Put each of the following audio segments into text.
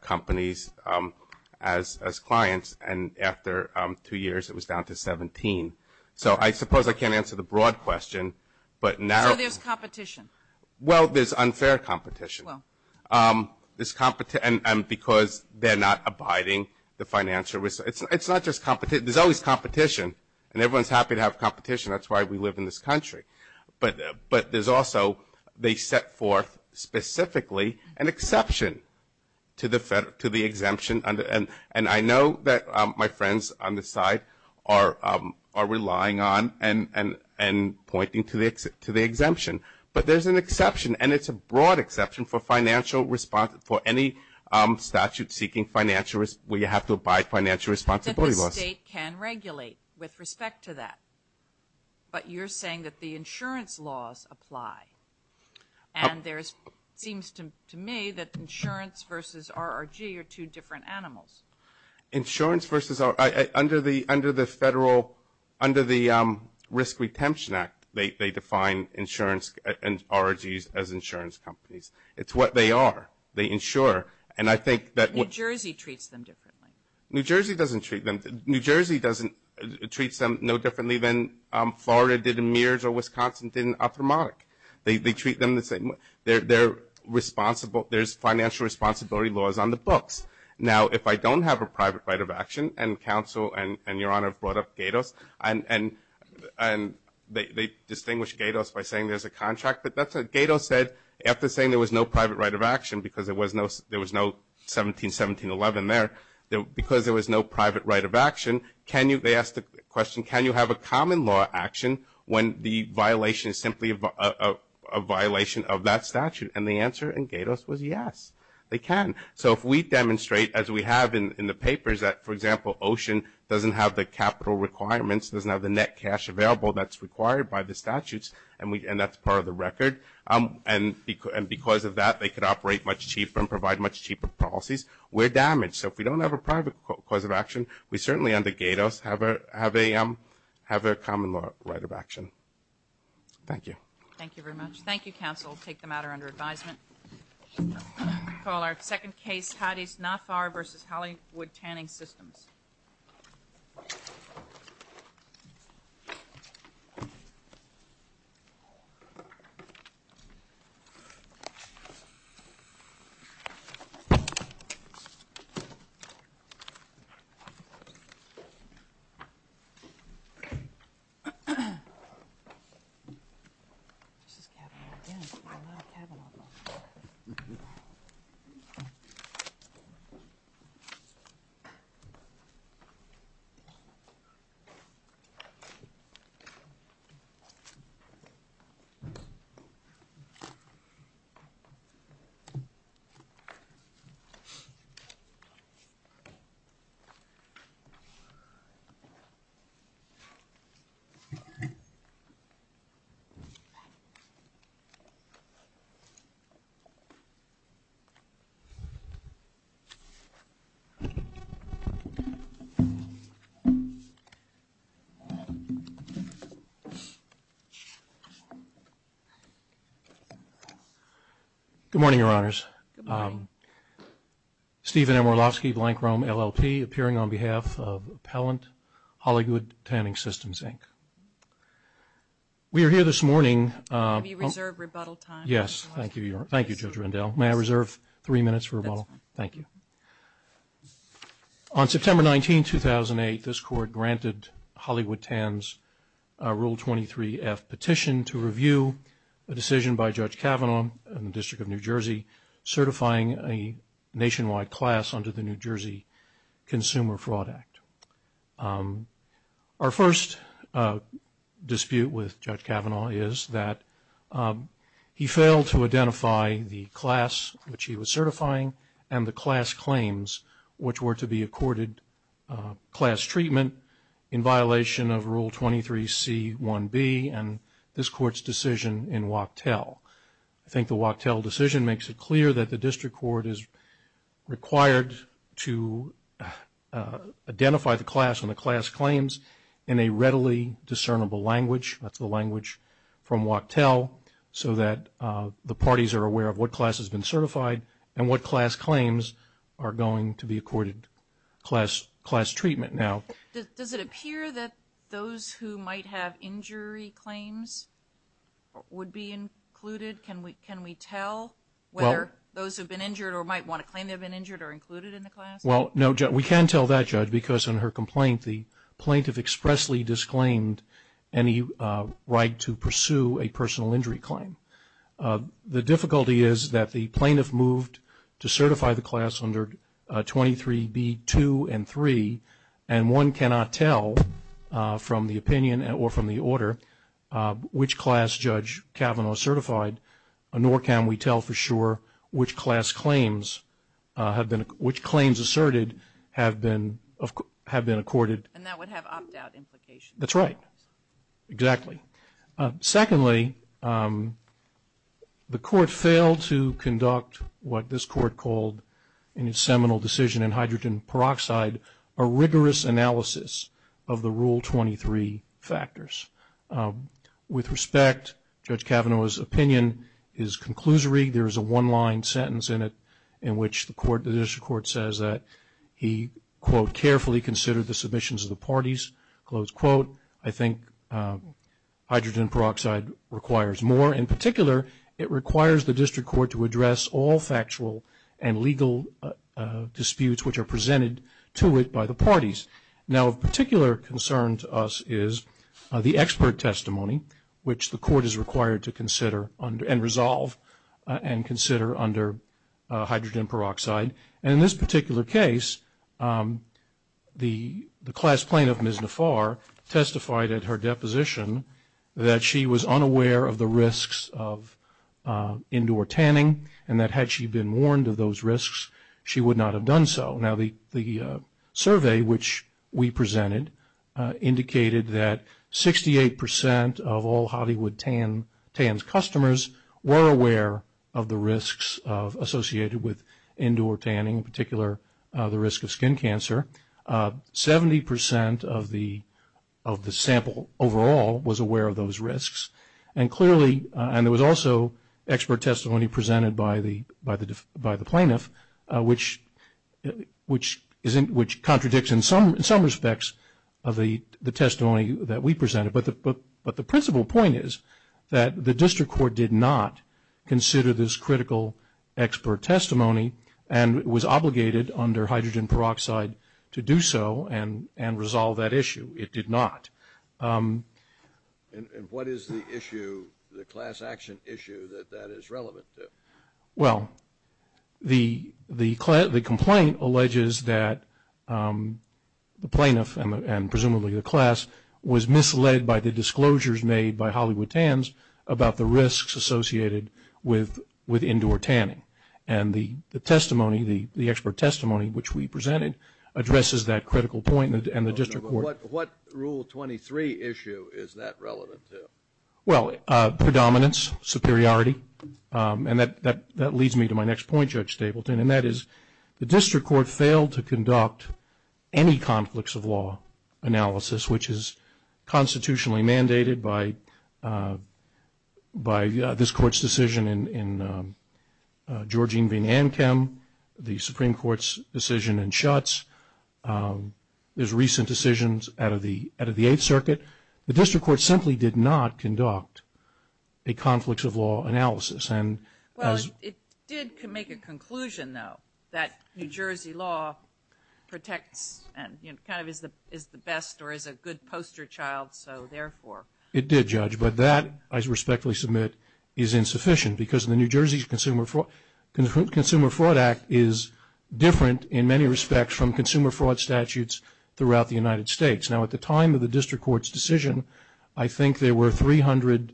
companies as clients, and after two years it was down to 17. So I suppose I can't answer the broad question, but now So there's competition. Well, there's unfair competition. Well. And because they're not abiding the financial risk. It's not just competition. There's always competition, and everyone's happy to have competition. That's why we live in this country. But there's also, they set forth specifically an exception to the exemption, and I know that my friends on this side are relying on and pointing to the exemption. But there's an exception, and it's a broad exception for any statute-seeking financial risk where you have to abide financial responsibility laws. The state can regulate with respect to that, but you're saying that the insurance laws apply, and there seems to me that insurance versus RRG are two different animals. Insurance versus RRG, under the Federal, under the Risk Retention Act, they define insurance and RRGs as insurance companies. It's what they are. They insure, and I think that. New Jersey treats them differently. New Jersey doesn't treat them. New Jersey treats them no differently than Florida did in Mears or Wisconsin did in Arthromontic. They treat them the same way. They're responsible. There's financial responsibility laws on the books. Now, if I don't have a private right of action, and counsel and Your Honor have brought up Gatos, and they distinguish Gatos by saying there's a contract, but that's what Gatos said. After saying there was no private right of action because there was no 171711 there, because there was no private right of action, they asked the question, can you have a common law action when the violation is simply a violation of that statute? And the answer in Gatos was yes, they can. So if we demonstrate, as we have in the papers, that, for example, Ocean doesn't have the capital requirements, doesn't have the net cash available that's required by the statutes, and that's part of the record, and because of that they could operate much cheaper and provide much cheaper policies, we're damaged. So if we don't have a private cause of action, we certainly under Gatos have a common right of action. Thank you. Thank you very much. Thank you, counsel. We'll take the matter under advisement. We call our second case Hadis-Nafar v. Hollywood Tanning Systems. Thank you. Good morning, Your Honors. Good morning. Stephen Amorlovsky, Blank Rome, LLP, appearing on behalf of Appellant Hollywood Tanning Systems, Inc. We are here this morning. We reserve rebuttal time. Yes, thank you, Judge Rendell. May I reserve three minutes for rebuttal? Thank you. On September 19, 2008, this Court granted Hollywood Tan's Rule 23-F petition to review a decision by Judge Kavanaugh in the District of New Jersey certifying a nationwide class under the New Jersey Consumer Fraud Act. Our first dispute with Judge Kavanaugh is that he failed to identify the class which he was certifying and the class claims which were to be accorded class treatment in violation of Rule 23C-1B and this Court's decision in Wachtell. I think the Wachtell decision makes it clear that the District Court is required to identify the class and the class claims in a readily discernible language, that's the language from Wachtell, so that the parties are aware of what class has been certified and what class claims are going to be accorded class treatment now. Does it appear that those who might have injury claims would be included? Can we tell whether those who've been injured or might want to claim they've been injured are included in the class? Well, no, we can tell that, Judge, because in her complaint, the plaintiff expressly disclaimed any right to pursue a personal injury claim. The difficulty is that the plaintiff moved to certify the class under 23B-2 and 3 and one cannot tell from the opinion or from the order which class Judge Kavanaugh certified, nor can we tell for sure which claims asserted have been accorded. And that would have opt-out implications. That's right, exactly. Secondly, the Court failed to conduct what this Court called in its seminal decision in hydrogen peroxide, a rigorous analysis of the Rule 23 factors. With respect, Judge Kavanaugh's opinion is conclusory. There is a one-line sentence in it in which the District Court says that he, quote, carefully considered the submissions of the parties, close quote. I think hydrogen peroxide requires more. In particular, it requires the District Court to address all factual and legal disputes which are presented to it by the parties. Now of particular concern to us is the expert testimony, which the Court is required to consider and resolve and consider under hydrogen peroxide. And in this particular case, the class plaintiff, Ms. Nafar, testified at her deposition that she was unaware of the risks of indoor tanning and that had she been warned of those risks, she would not have done so. Now the survey which we presented indicated that 68% of all Hollywood Tans customers were aware of the risks associated with indoor tanning, in particular the risk of skin cancer. Seventy percent of the sample overall was aware of those risks. And there was also expert testimony presented by the plaintiff, which contradicts in some respects of the testimony that we presented. But the principal point is that the District Court did not consider this critical expert testimony and was obligated under hydrogen peroxide to do so and resolve that issue. It did not. And what is the issue, the class action issue that that is relevant to? Well, the complaint alleges that the plaintiff and presumably the class was misled by the disclosures made by Hollywood Tans about the risks associated with indoor tanning. And the testimony, the expert testimony which we presented, addresses that critical point. What Rule 23 issue is that relevant to? Well, predominance, superiority. And that leads me to my next point, Judge Stapleton, and that is the District Court failed to conduct any conflicts of law analysis, which is constitutionally mandated by this Court's decision in Georgene v. Ankem, the Supreme Court's decision in Schutz. There's recent decisions out of the Eighth Circuit. The District Court simply did not conduct a conflicts of law analysis. Well, it did make a conclusion, though, that New Jersey law protects and kind of is the best or is a good poster child, so therefore. It did, Judge. But that, I respectfully submit, is insufficient because the New Jersey Consumer Fraud Act is different in many respects from consumer fraud statutes throughout the United States. Now, at the time of the District Court's decision, I think there were 300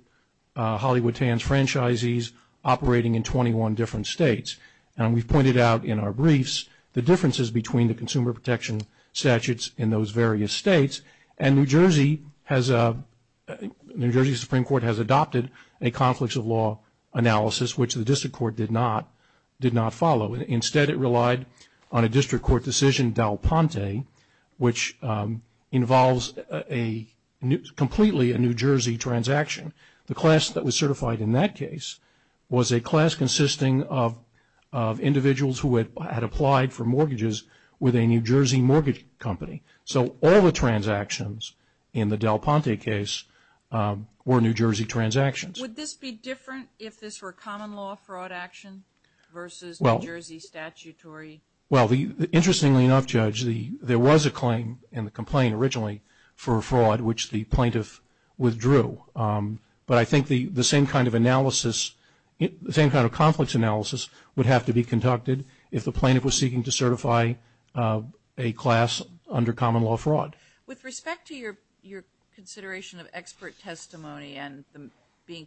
Hollywood Tans franchisees operating in 21 different states. And we've pointed out in our briefs the differences between the consumer protection statutes in those various states. And New Jersey Supreme Court has adopted a conflicts of law analysis, which the District Court did not follow. Instead, it relied on a District Court decision, Dal Ponte, which involves completely a New Jersey transaction. The class that was certified in that case was a class consisting of individuals who had applied for mortgages with a New Jersey mortgage company. So all the transactions in the Dal Ponte case were New Jersey transactions. Would this be different if this were common law fraud action versus New Jersey statutory? Well, interestingly enough, Judge, there was a claim in the complaint originally for a fraud which the plaintiff withdrew. But I think the same kind of analysis, the same kind of conflicts analysis would have to be conducted if the plaintiff was seeking to certify a class under common law fraud. With respect to your consideration of expert testimony and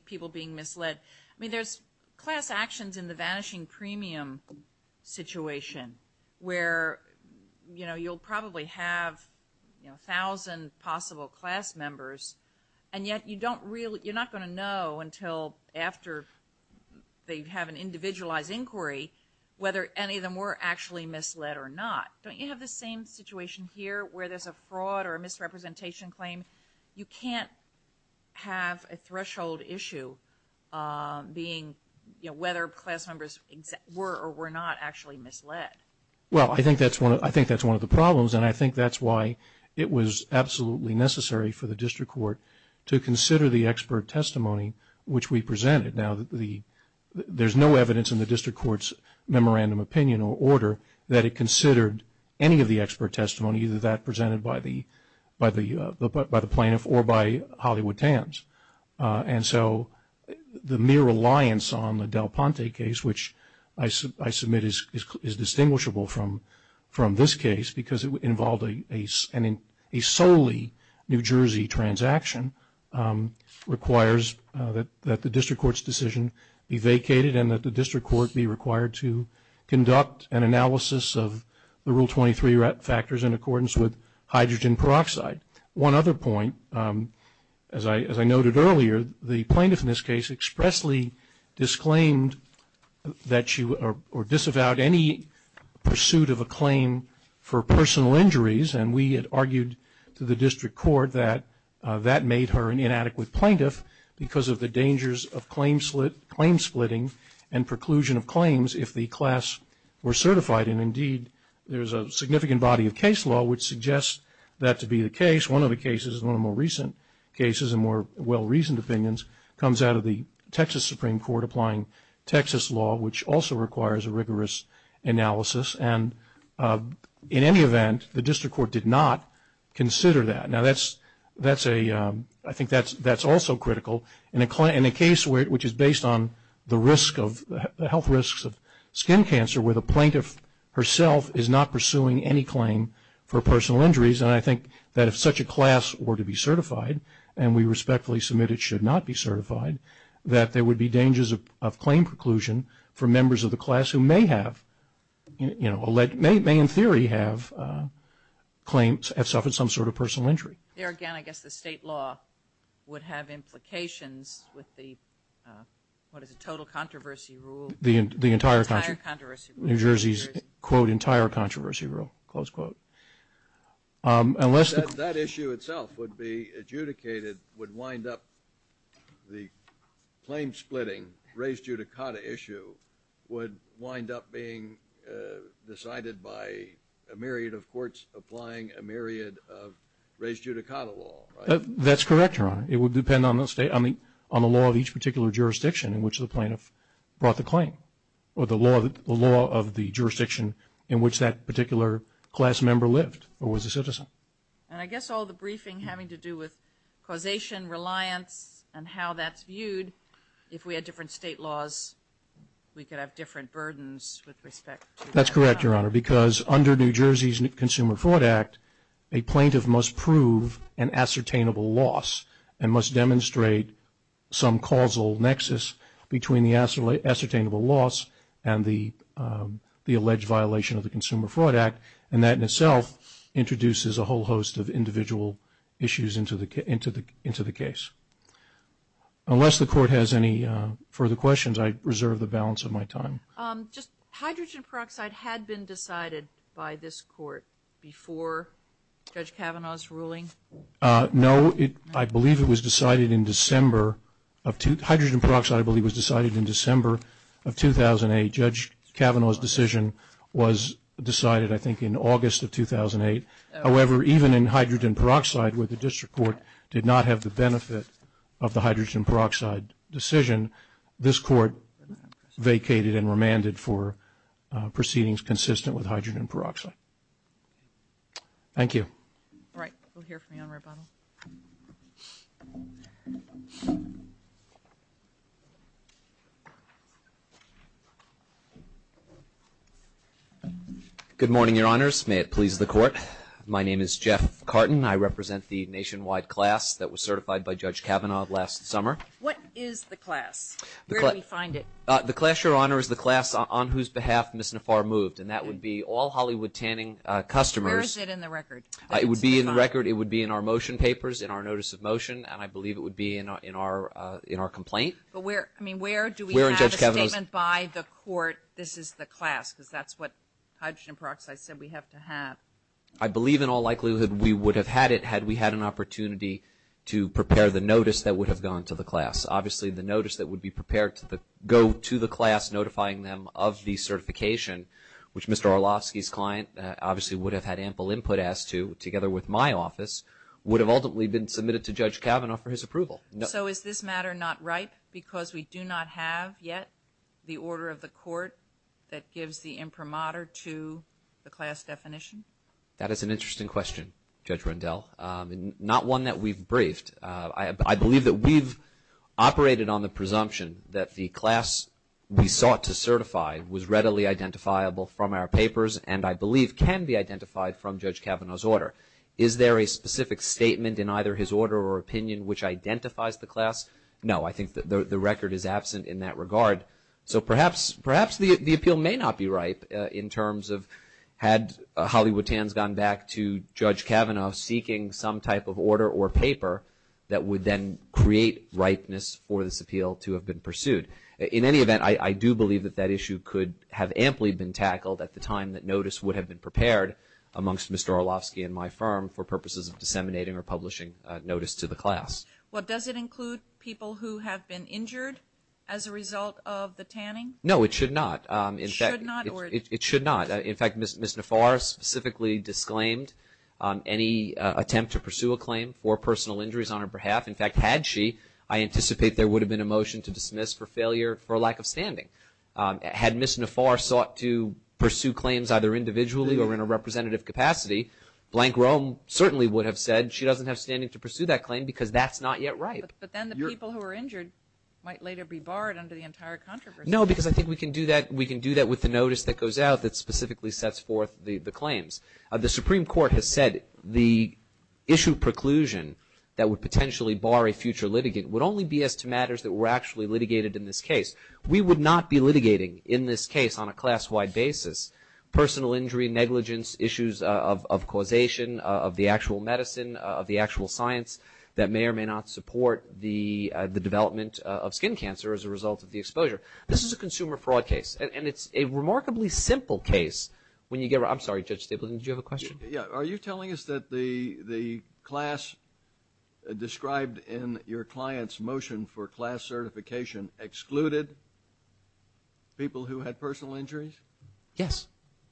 people being misled, I mean, there's class actions in the vanishing premium situation where, you know, you'll probably have, you know, a thousand possible class members, and yet you're not going to know until after they have an individualized inquiry whether any of them were actually misled or not. Don't you have the same situation here where there's a fraud or a misrepresentation claim? You can't have a threshold issue being, you know, whether class members were or were not actually misled. Well, I think that's one of the problems, and I think that's why it was absolutely necessary for the district court to consider the expert testimony which we presented. Now, there's no evidence in the district court's memorandum opinion or order that it considered any of the expert testimony, either that presented by the plaintiff or by Hollywood Tams. And so the mere reliance on the Del Ponte case, which I submit is distinguishable from this case because it involved a solely New Jersey transaction, requires that the district court's decision be vacated and that the district court be required to conduct an analysis of the Rule 23 factors in accordance with hydrogen peroxide. One other point, as I noted earlier, the plaintiff in this case expressly disclaimed that she, or disavowed any pursuit of a claim for personal injuries, and we had argued to the district court that that made her an inadequate plaintiff because of the dangers of claim splitting and preclusion of claims if the class were certified. And indeed, there's a significant body of case law which suggests that to be the case. One of the cases, one of the more recent cases and more well-reasoned opinions, comes out of the Texas Supreme Court applying Texas law, which also requires a rigorous analysis. And in any event, the district court did not consider that. Now, I think that's also critical in a case which is based on the health risks of skin cancer where the plaintiff herself is not pursuing any claim for personal injuries. And I think that if such a class were to be certified, and we respectfully submit it should not be certified, that there would be dangers of claim preclusion for members of the class who may have, you know, may in theory have claimed, have suffered some sort of personal injury. There again, I guess the state law would have implications with the, what is it, total controversy rule? The entire controversy rule. New Jersey's, quote, entire controversy rule, close quote. That issue itself would be adjudicated, would wind up the claim splitting, race judicata issue would wind up being decided by a myriad of courts applying a myriad of race judicata law, right? That's correct, Your Honor. It would depend on the law of each particular jurisdiction in which the plaintiff brought the claim or the law of the jurisdiction in which that particular class member lived or was a citizen. And I guess all the briefing having to do with causation, reliance, and how that's viewed, if we had different state laws, we could have different burdens with respect to that. That's correct, Your Honor, because under New Jersey's Consumer Fraud Act, a plaintiff must prove an ascertainable loss and must demonstrate some causal nexus between the ascertainable loss and the alleged violation of the Consumer Fraud Act, and that in itself introduces a whole host of individual issues into the case. Unless the court has any further questions, I reserve the balance of my time. Just hydrogen peroxide had been decided by this court before Judge Kavanaugh's ruling? No. I believe it was decided in December. Hydrogen peroxide, I believe, was decided in December of 2008. Judge Kavanaugh's decision was decided, I think, in August of 2008. However, even in hydrogen peroxide, where the district court did not have the benefit of the hydrogen peroxide decision, this court vacated and remanded for proceedings consistent with hydrogen peroxide. Thank you. All right. We'll hear from you on rebuttal. Good morning, Your Honors. May it please the Court. My name is Jeff Carton. I represent the nationwide class that was certified by Judge Kavanaugh last summer. What is the class? Where do we find it? The class, Your Honor, is the class on whose behalf Ms. Nafar moved, and that would be all Hollywood Tanning customers. Where is it in the record? It would be in the record. It would be in our motion papers, in our notice of motion, and I believe it would be in our complaint. But where, I mean, where do we have a statement by the court, this is the class because that's what hydrogen peroxide said we have to have? I believe in all likelihood we would have had it had we had an opportunity to prepare the notice that would have gone to the class. Obviously the notice that would be prepared to go to the class notifying them of the input asked to, together with my office, would have ultimately been submitted to Judge Kavanaugh for his approval. So is this matter not ripe because we do not have yet the order of the court that gives the imprimatur to the class definition? That is an interesting question, Judge Rendell, not one that we've briefed. I believe that we've operated on the presumption that the class we sought to certify was readily identifiable from our papers and I believe can be identified from Judge Kavanaugh's order. Is there a specific statement in either his order or opinion which identifies the class? No. I think the record is absent in that regard. So perhaps the appeal may not be ripe in terms of had Hollywood Tans gone back to Judge Kavanaugh seeking some type of order or paper that would then create ripeness for this appeal to have been pursued. In any event, I do believe that that issue could have amply been tackled at the time that notice would have been prepared amongst Mr. Orlovsky and my firm for purposes of disseminating or publishing notice to the class. Well, does it include people who have been injured as a result of the tanning? No, it should not. It should not? It should not. In fact, Ms. Nafar specifically disclaimed any attempt to pursue a claim for personal injuries on her behalf. In fact, had she, I anticipate there would have been a motion to dismiss for failure for lack of standing. Had Ms. Nafar sought to pursue claims either individually or in a representative capacity, Blank Roam certainly would have said she doesn't have standing to pursue that claim because that's not yet ripe. But then the people who were injured might later be barred under the entire controversy. No, because I think we can do that with the notice that goes out that specifically sets forth the claims. The Supreme Court has said the issue preclusion that would potentially bar a future litigant would only be as to matters that were actually litigated in this case. We would not be litigating in this case on a class-wide basis personal injury, negligence, issues of causation of the actual medicine, of the actual science that may or may not support the development of skin cancer as a result of the exposure. This is a consumer fraud case, and it's a remarkably simple case. I'm sorry, Judge Stapleton, did you have a question? Are you telling us that the class described in your client's motion for class certification excluded people who had personal injuries? Yes.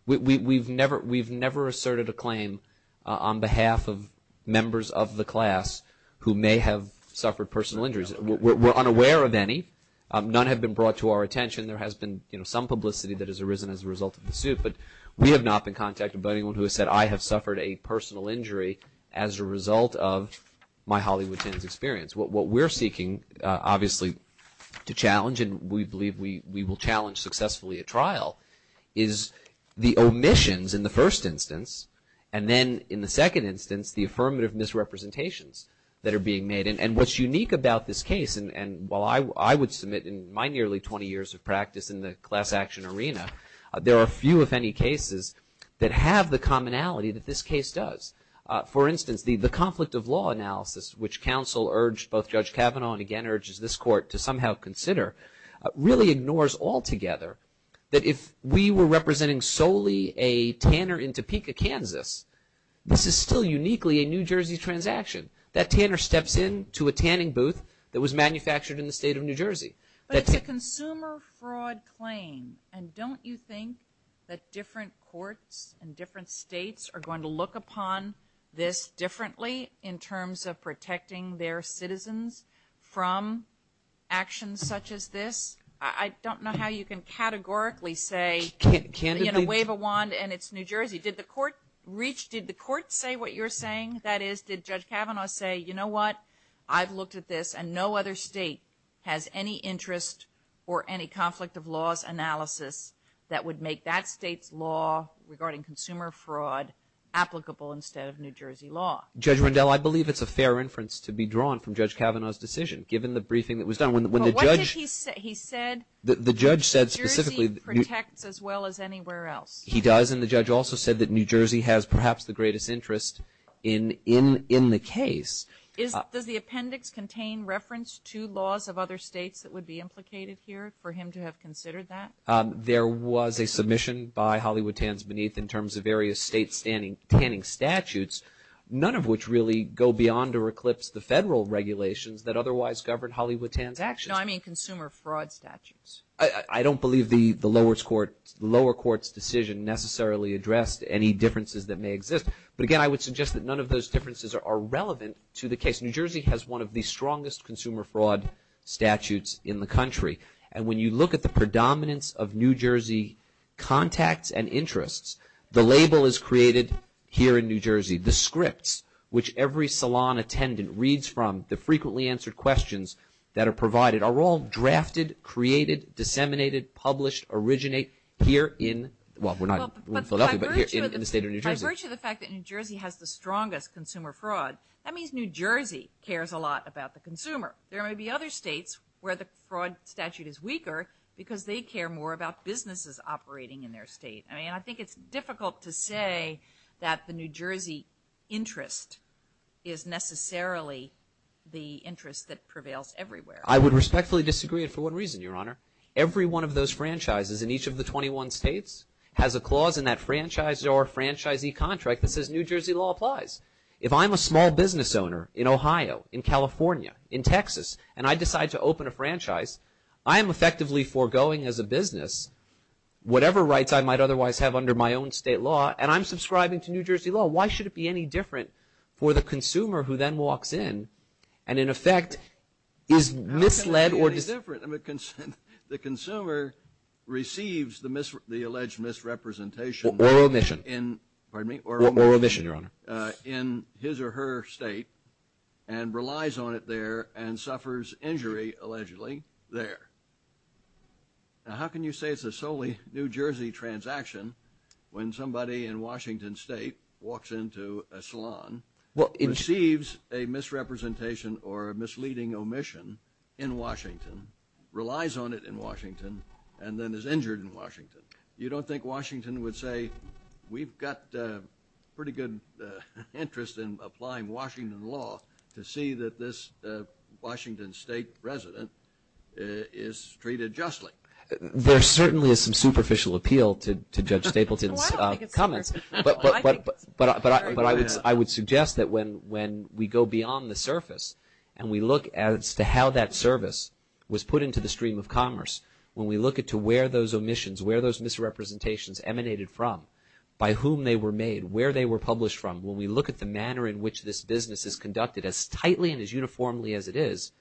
We've never asserted a claim on behalf of members of the class who may have suffered personal injuries. We're unaware of any. None have been brought to our attention. There has been some publicity that has arisen as a result of the suit, but we have not been contacted by anyone who has said, I have suffered a personal injury as a result of my Hollywood Tins experience. What we're seeking, obviously, to challenge, and we believe we will challenge successfully at trial, is the omissions in the first instance, and then in the second instance, the affirmative misrepresentations that are being made. And what's unique about this case, and while I would submit in my nearly 20 years of practice in the class action arena, there are few, if any, cases that have the commonality that this case does. For instance, the conflict of law analysis, which counsel urged both Judge Kavanaugh and again urges this court to somehow consider, really ignores altogether that if we were representing solely a tanner in Topeka, Kansas, this is still uniquely a New Jersey transaction. That tanner steps into a tanning booth that was manufactured in the state of New Jersey. But it's a consumer fraud claim, and don't you think that different courts and different states are going to look upon this differently in terms of protecting their citizens from actions such as this? I don't know how you can categorically say, you know, wave a wand and it's New Jersey. Did the court reach, did the court say what you're saying? That is, did Judge Kavanaugh say, you know what, I've looked at this and no other state has any interest or any conflict of laws analysis that would make that state's law regarding consumer fraud applicable instead of New Jersey law? Judge Rundell, I believe it's a fair inference to be drawn from Judge Kavanaugh's decision, given the briefing that was done. Well, what did he say? He said New Jersey protects as well as anywhere else. He does, and the judge also said that New Jersey has perhaps the greatest interest in the case. Does the appendix contain reference to laws of other states that would be implicated here for him to have considered that? There was a submission by Hollywood Tans Beneath in terms of various state tanning statutes, none of which really go beyond or eclipse the federal regulations that otherwise govern Hollywood Tans. No, I mean consumer fraud statutes. I don't believe the lower court's decision necessarily addressed any differences that may exist. But again, I would suggest that none of those differences are relevant to the case. New Jersey has one of the strongest consumer fraud statutes in the country, and when you look at the predominance of New Jersey contacts and interests, the label is created here in New Jersey. The scripts, which every salon attendant reads from, the frequently answered questions that are provided, are all drafted, created, disseminated, published, originate here in the state of New Jersey. By virtue of the fact that New Jersey has the strongest consumer fraud, that means New Jersey cares a lot about the consumer. There may be other states where the fraud statute is weaker because they care more about businesses operating in their state. I think it's difficult to say that the New Jersey interest is necessarily the interest that prevails everywhere. I would respectfully disagree for one reason, Your Honor. Every one of those franchises in each of the 21 states has a clause in that franchise or franchisee contract that says New Jersey law applies. If I'm a small business owner in Ohio, in California, in Texas, and I decide to open a franchise, I am effectively foregoing as a business whatever rights I might otherwise have under my own state law, and I'm subscribing to New Jersey law. Why should it be any different for the consumer who then walks in and, in effect, is misled? How can it be any different? The consumer receives the alleged misrepresentation. Or omission. Pardon me? Or omission, Your Honor. In his or her state and relies on it there and suffers injury, allegedly, there. Now, how can you say it's a solely New Jersey transaction when somebody in Washington State walks into a salon, receives a misrepresentation or a misleading omission in Washington, relies on it in Washington, and then is injured in Washington? You don't think Washington would say, We've got pretty good interest in applying Washington law to see that this Washington State resident is treated justly. There certainly is some superficial appeal to Judge Stapleton's comments. But I would suggest that when we go beyond the surface and we look as to how that service was put into the stream of commerce, when we look at to where those omissions, where those misrepresentations emanated from, by whom they were made, where they were published from, when we look at the manner in which this business is conducted, as tightly and as uniformly as it is,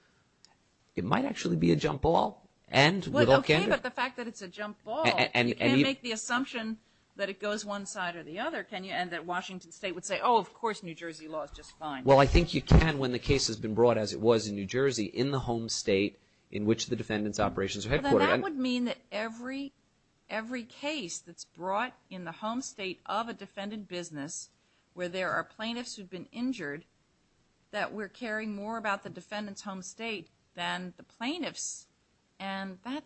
it might actually be a jump ball. Okay, but the fact that it's a jump ball, you can't make the assumption that it goes one side or the other, can you? And that Washington State would say, Oh, of course, New Jersey law is just fine. Well, I think you can when the case has been brought, as it was in New Jersey, in the home state in which the defendant's operations are headquartered. Well, then that would mean that every case that's brought in the home state of a defendant business where there are plaintiffs who've been injured, that we're caring more about the defendant's home state than the plaintiffs. And that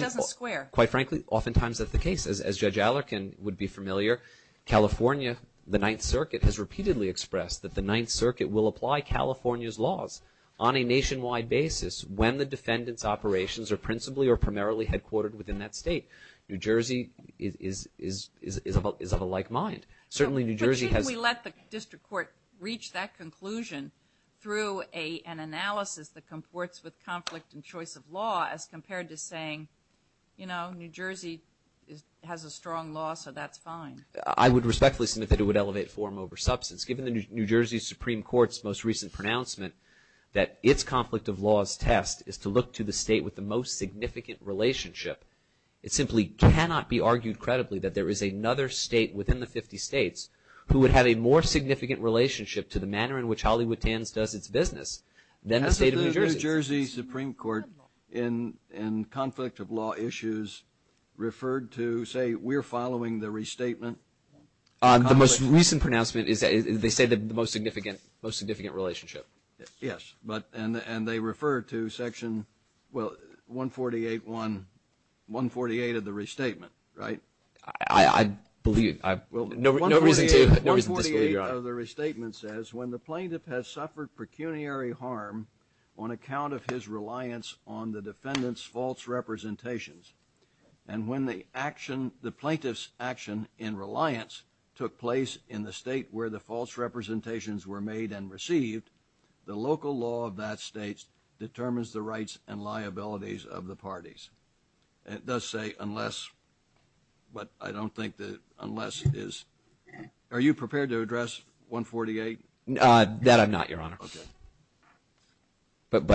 doesn't square. Quite frankly, oftentimes that's the case. As Judge Allarkin would be familiar, California, the Ninth Circuit, has repeatedly expressed that the Ninth Circuit will apply California's laws on a nationwide basis when the defendant's operations are principally or primarily headquartered within that state. New Jersey is of a like mind. But shouldn't we let the district court reach that conclusion through an analysis that comports with conflict and choice of law as compared to saying, you know, New Jersey has a strong law, so that's fine. I would respectfully submit that it would elevate form over substance. Given the New Jersey Supreme Court's most recent pronouncement that its conflict of laws test is to look to the state with the most significant relationship, it simply cannot be argued credibly that there is another state within the 50 states who would have a more significant relationship to the manner in which Hollywood Tans does its business than the state of New Jersey. Has the New Jersey Supreme Court in conflict of law issues referred to, say, we're following the restatement? The most recent pronouncement is they say the most significant relationship. Yes. And they refer to Section 148 of the restatement, right? I believe. No reason to disagree, Your Honor. Section 148 of the restatement says when the plaintiff has suffered pecuniary harm on account of his reliance on the defendant's false representations and when the plaintiff's action in reliance took place in the state where the false representations were made and received, the local law of that state determines the rights and liabilities of the parties. It does say unless, but I don't think that unless is. Are you prepared to address 148? That I'm not, Your Honor. Okay. But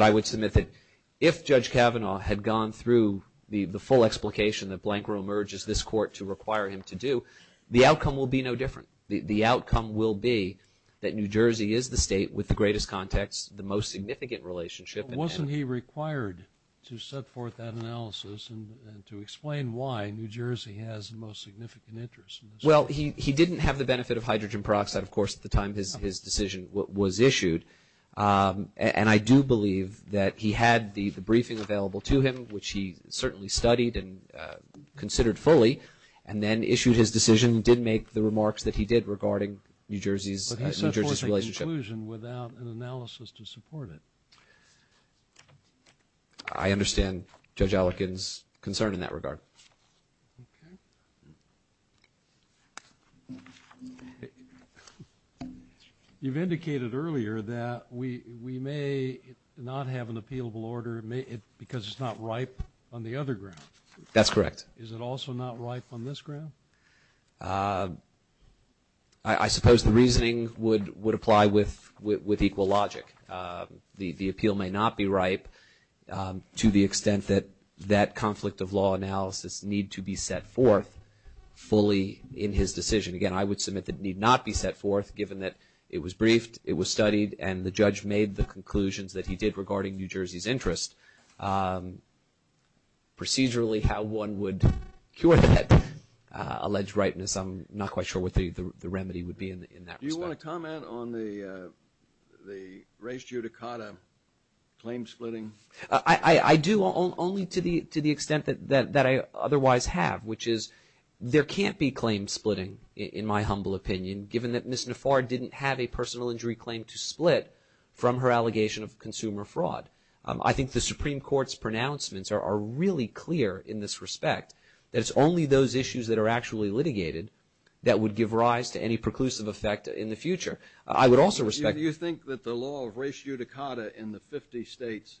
I would submit that if Judge Kavanaugh had gone through the full explication that Blancro emerges this court to require him to do, the outcome will be no different. The outcome will be that New Jersey is the state with the greatest context, the most significant relationship. But wasn't he required to set forth that analysis and to explain why New Jersey has the most significant interest in this case? Well, he didn't have the benefit of hydrogen peroxide, of course, at the time his decision was issued. And I do believe that he had the briefing available to him, which he certainly studied and considered fully, and then issued his decision and did make the remarks that he did regarding New Jersey's relationship. But he made the conclusion without an analysis to support it. I understand Judge Allikin's concern in that regard. Okay. You've indicated earlier that we may not have an appealable order because it's not ripe on the other ground. That's correct. Is it also not ripe on this ground? I suppose the reasoning would apply with equal logic. The appeal may not be ripe to the extent that that conflict of law analysis need to be set forth fully in his decision. Again, I would submit that it need not be set forth, given that it was briefed, it was studied, and the judge made the conclusions that he did regarding New Jersey's interest. Procedurally, how one would cure that alleged ripeness, I'm not quite sure what the remedy would be in that respect. Do you want to comment on the res judicata claim splitting? I do only to the extent that I otherwise have, which is there can't be claim splitting, in my humble opinion, given that Ms. Nafar didn't have a personal injury claim to split from her allegation of consumer fraud. I think the Supreme Court's pronouncements are really clear in this respect, that it's only those issues that are actually litigated that would give rise to any preclusive effect in the future. I would also respect that. Do you think that the law of res judicata in the 50 states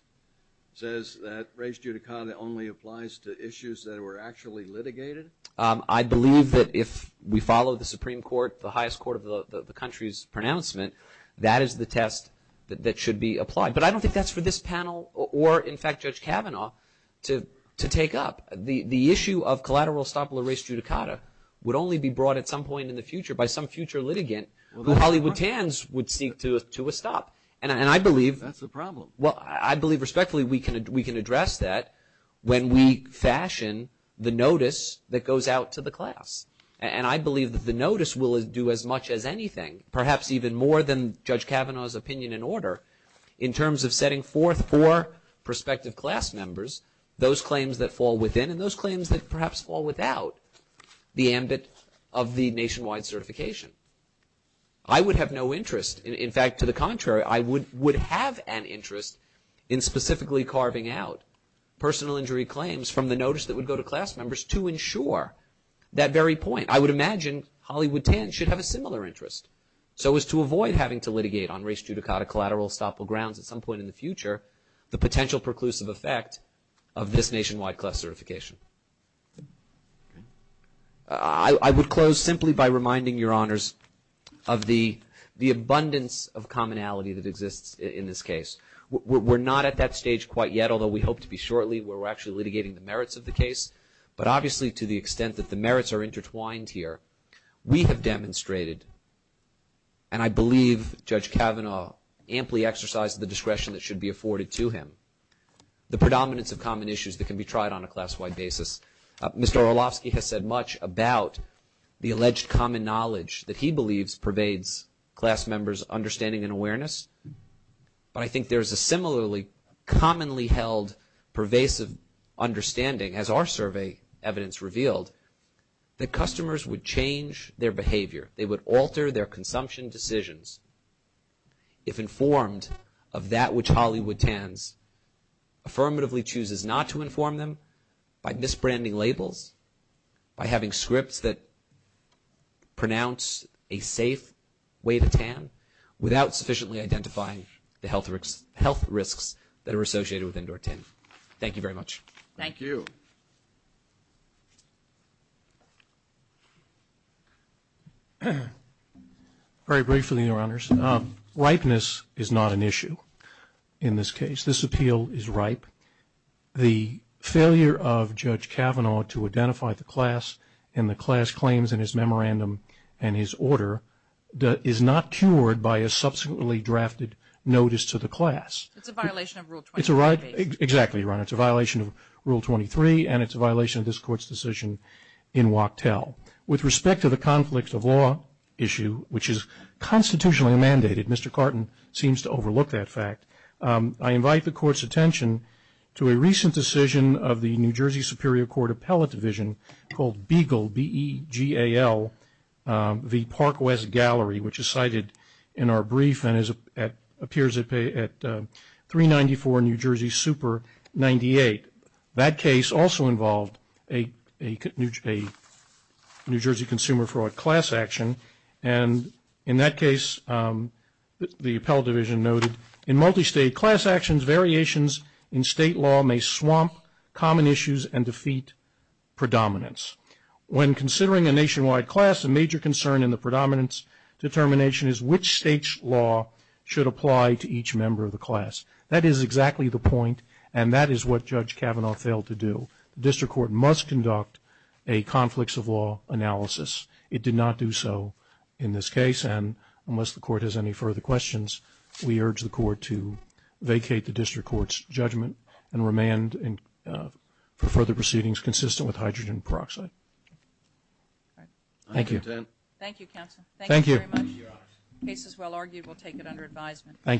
says that res judicata only applies to issues that were actually litigated? I believe that if we follow the Supreme Court, the highest court of the country's pronouncement, that is the test that should be applied. But I don't think that's for this panel or, in fact, Judge Kavanaugh to take up. The issue of collateral estoppel res judicata would only be brought at some point in the future by some future litigant who Hollywood tans would seek to estoppel. That's a problem. I believe respectfully we can address that when we fashion the notice that goes out to the class. And I believe that the notice will do as much as anything, perhaps even more than Judge Kavanaugh's opinion and order, in terms of setting forth for prospective class members those claims that fall within and those claims that perhaps fall without the ambit of the nationwide certification. I would have no interest. In fact, to the contrary, I would have an interest in specifically carving out personal injury claims from the notice that would go to class members to ensure that very point. I would imagine Hollywood tans should have a similar interest, so as to avoid having to litigate on res judicata collateral estoppel grounds at some point in the future the potential preclusive effect of this nationwide class certification. I would close simply by reminding your honors of the abundance of commonality that exists in this case. We're not at that stage quite yet, although we hope to be shortly, where we're actually litigating the merits of the case. But obviously, to the extent that the merits are intertwined here, we have demonstrated, and I believe Judge Kavanaugh amply exercised the discretion that should be afforded to him, the predominance of common issues that can be tried on a class-wide basis. Mr. Orlovsky has said much about the alleged common knowledge that he believes pervades class members' understanding and awareness. But I think there's a similarly commonly held pervasive understanding, as our survey evidence revealed, that customers would change their behavior. They would alter their consumption decisions if informed of that which Hollywood tans affirmatively chooses not to inform them by misbranding labels, by having scripts that pronounce a safe way to tan without sufficiently identifying the health risks that are associated with indoor tanning. Thank you very much. Thank you. Very briefly, your honors, ripeness is not an issue in this case. This appeal is ripe. The failure of Judge Kavanaugh to identify the class and the class claims in his memorandum and his order is not cured by a subsequently drafted notice to the class. It's a violation of Rule 23. Exactly, your honor. It's a violation of Rule 23, and it's a violation of this Court's decision in Wachtell. With respect to the conflict of law issue, which is constitutionally mandated, Mr. Carton seems to overlook that fact. I invite the Court's attention to a recent decision of the New Jersey Superior Court Appellate Division called BEGAL, B-E-G-A-L, v. Park West Gallery, which is cited in our brief and appears at 394 New Jersey Super 98. That case also involved a New Jersey consumer fraud class action, and in that case the appellate division noted, in multi-state class actions variations in state law may swamp common issues and defeat predominance. When considering a nationwide class, a major concern in the predominance determination is which state's law should apply to each member of the class. That is exactly the point, and that is what Judge Kavanaugh failed to do. The district court must conduct a conflicts of law analysis. It did not do so in this case, and unless the Court has any further questions, we urge the Court to vacate the district court's judgment and remand for further proceedings consistent with hydrogen peroxide. Thank you. Thank you, counsel. Thank you very much. The case is well argued. We'll take it under advisement. Thank you.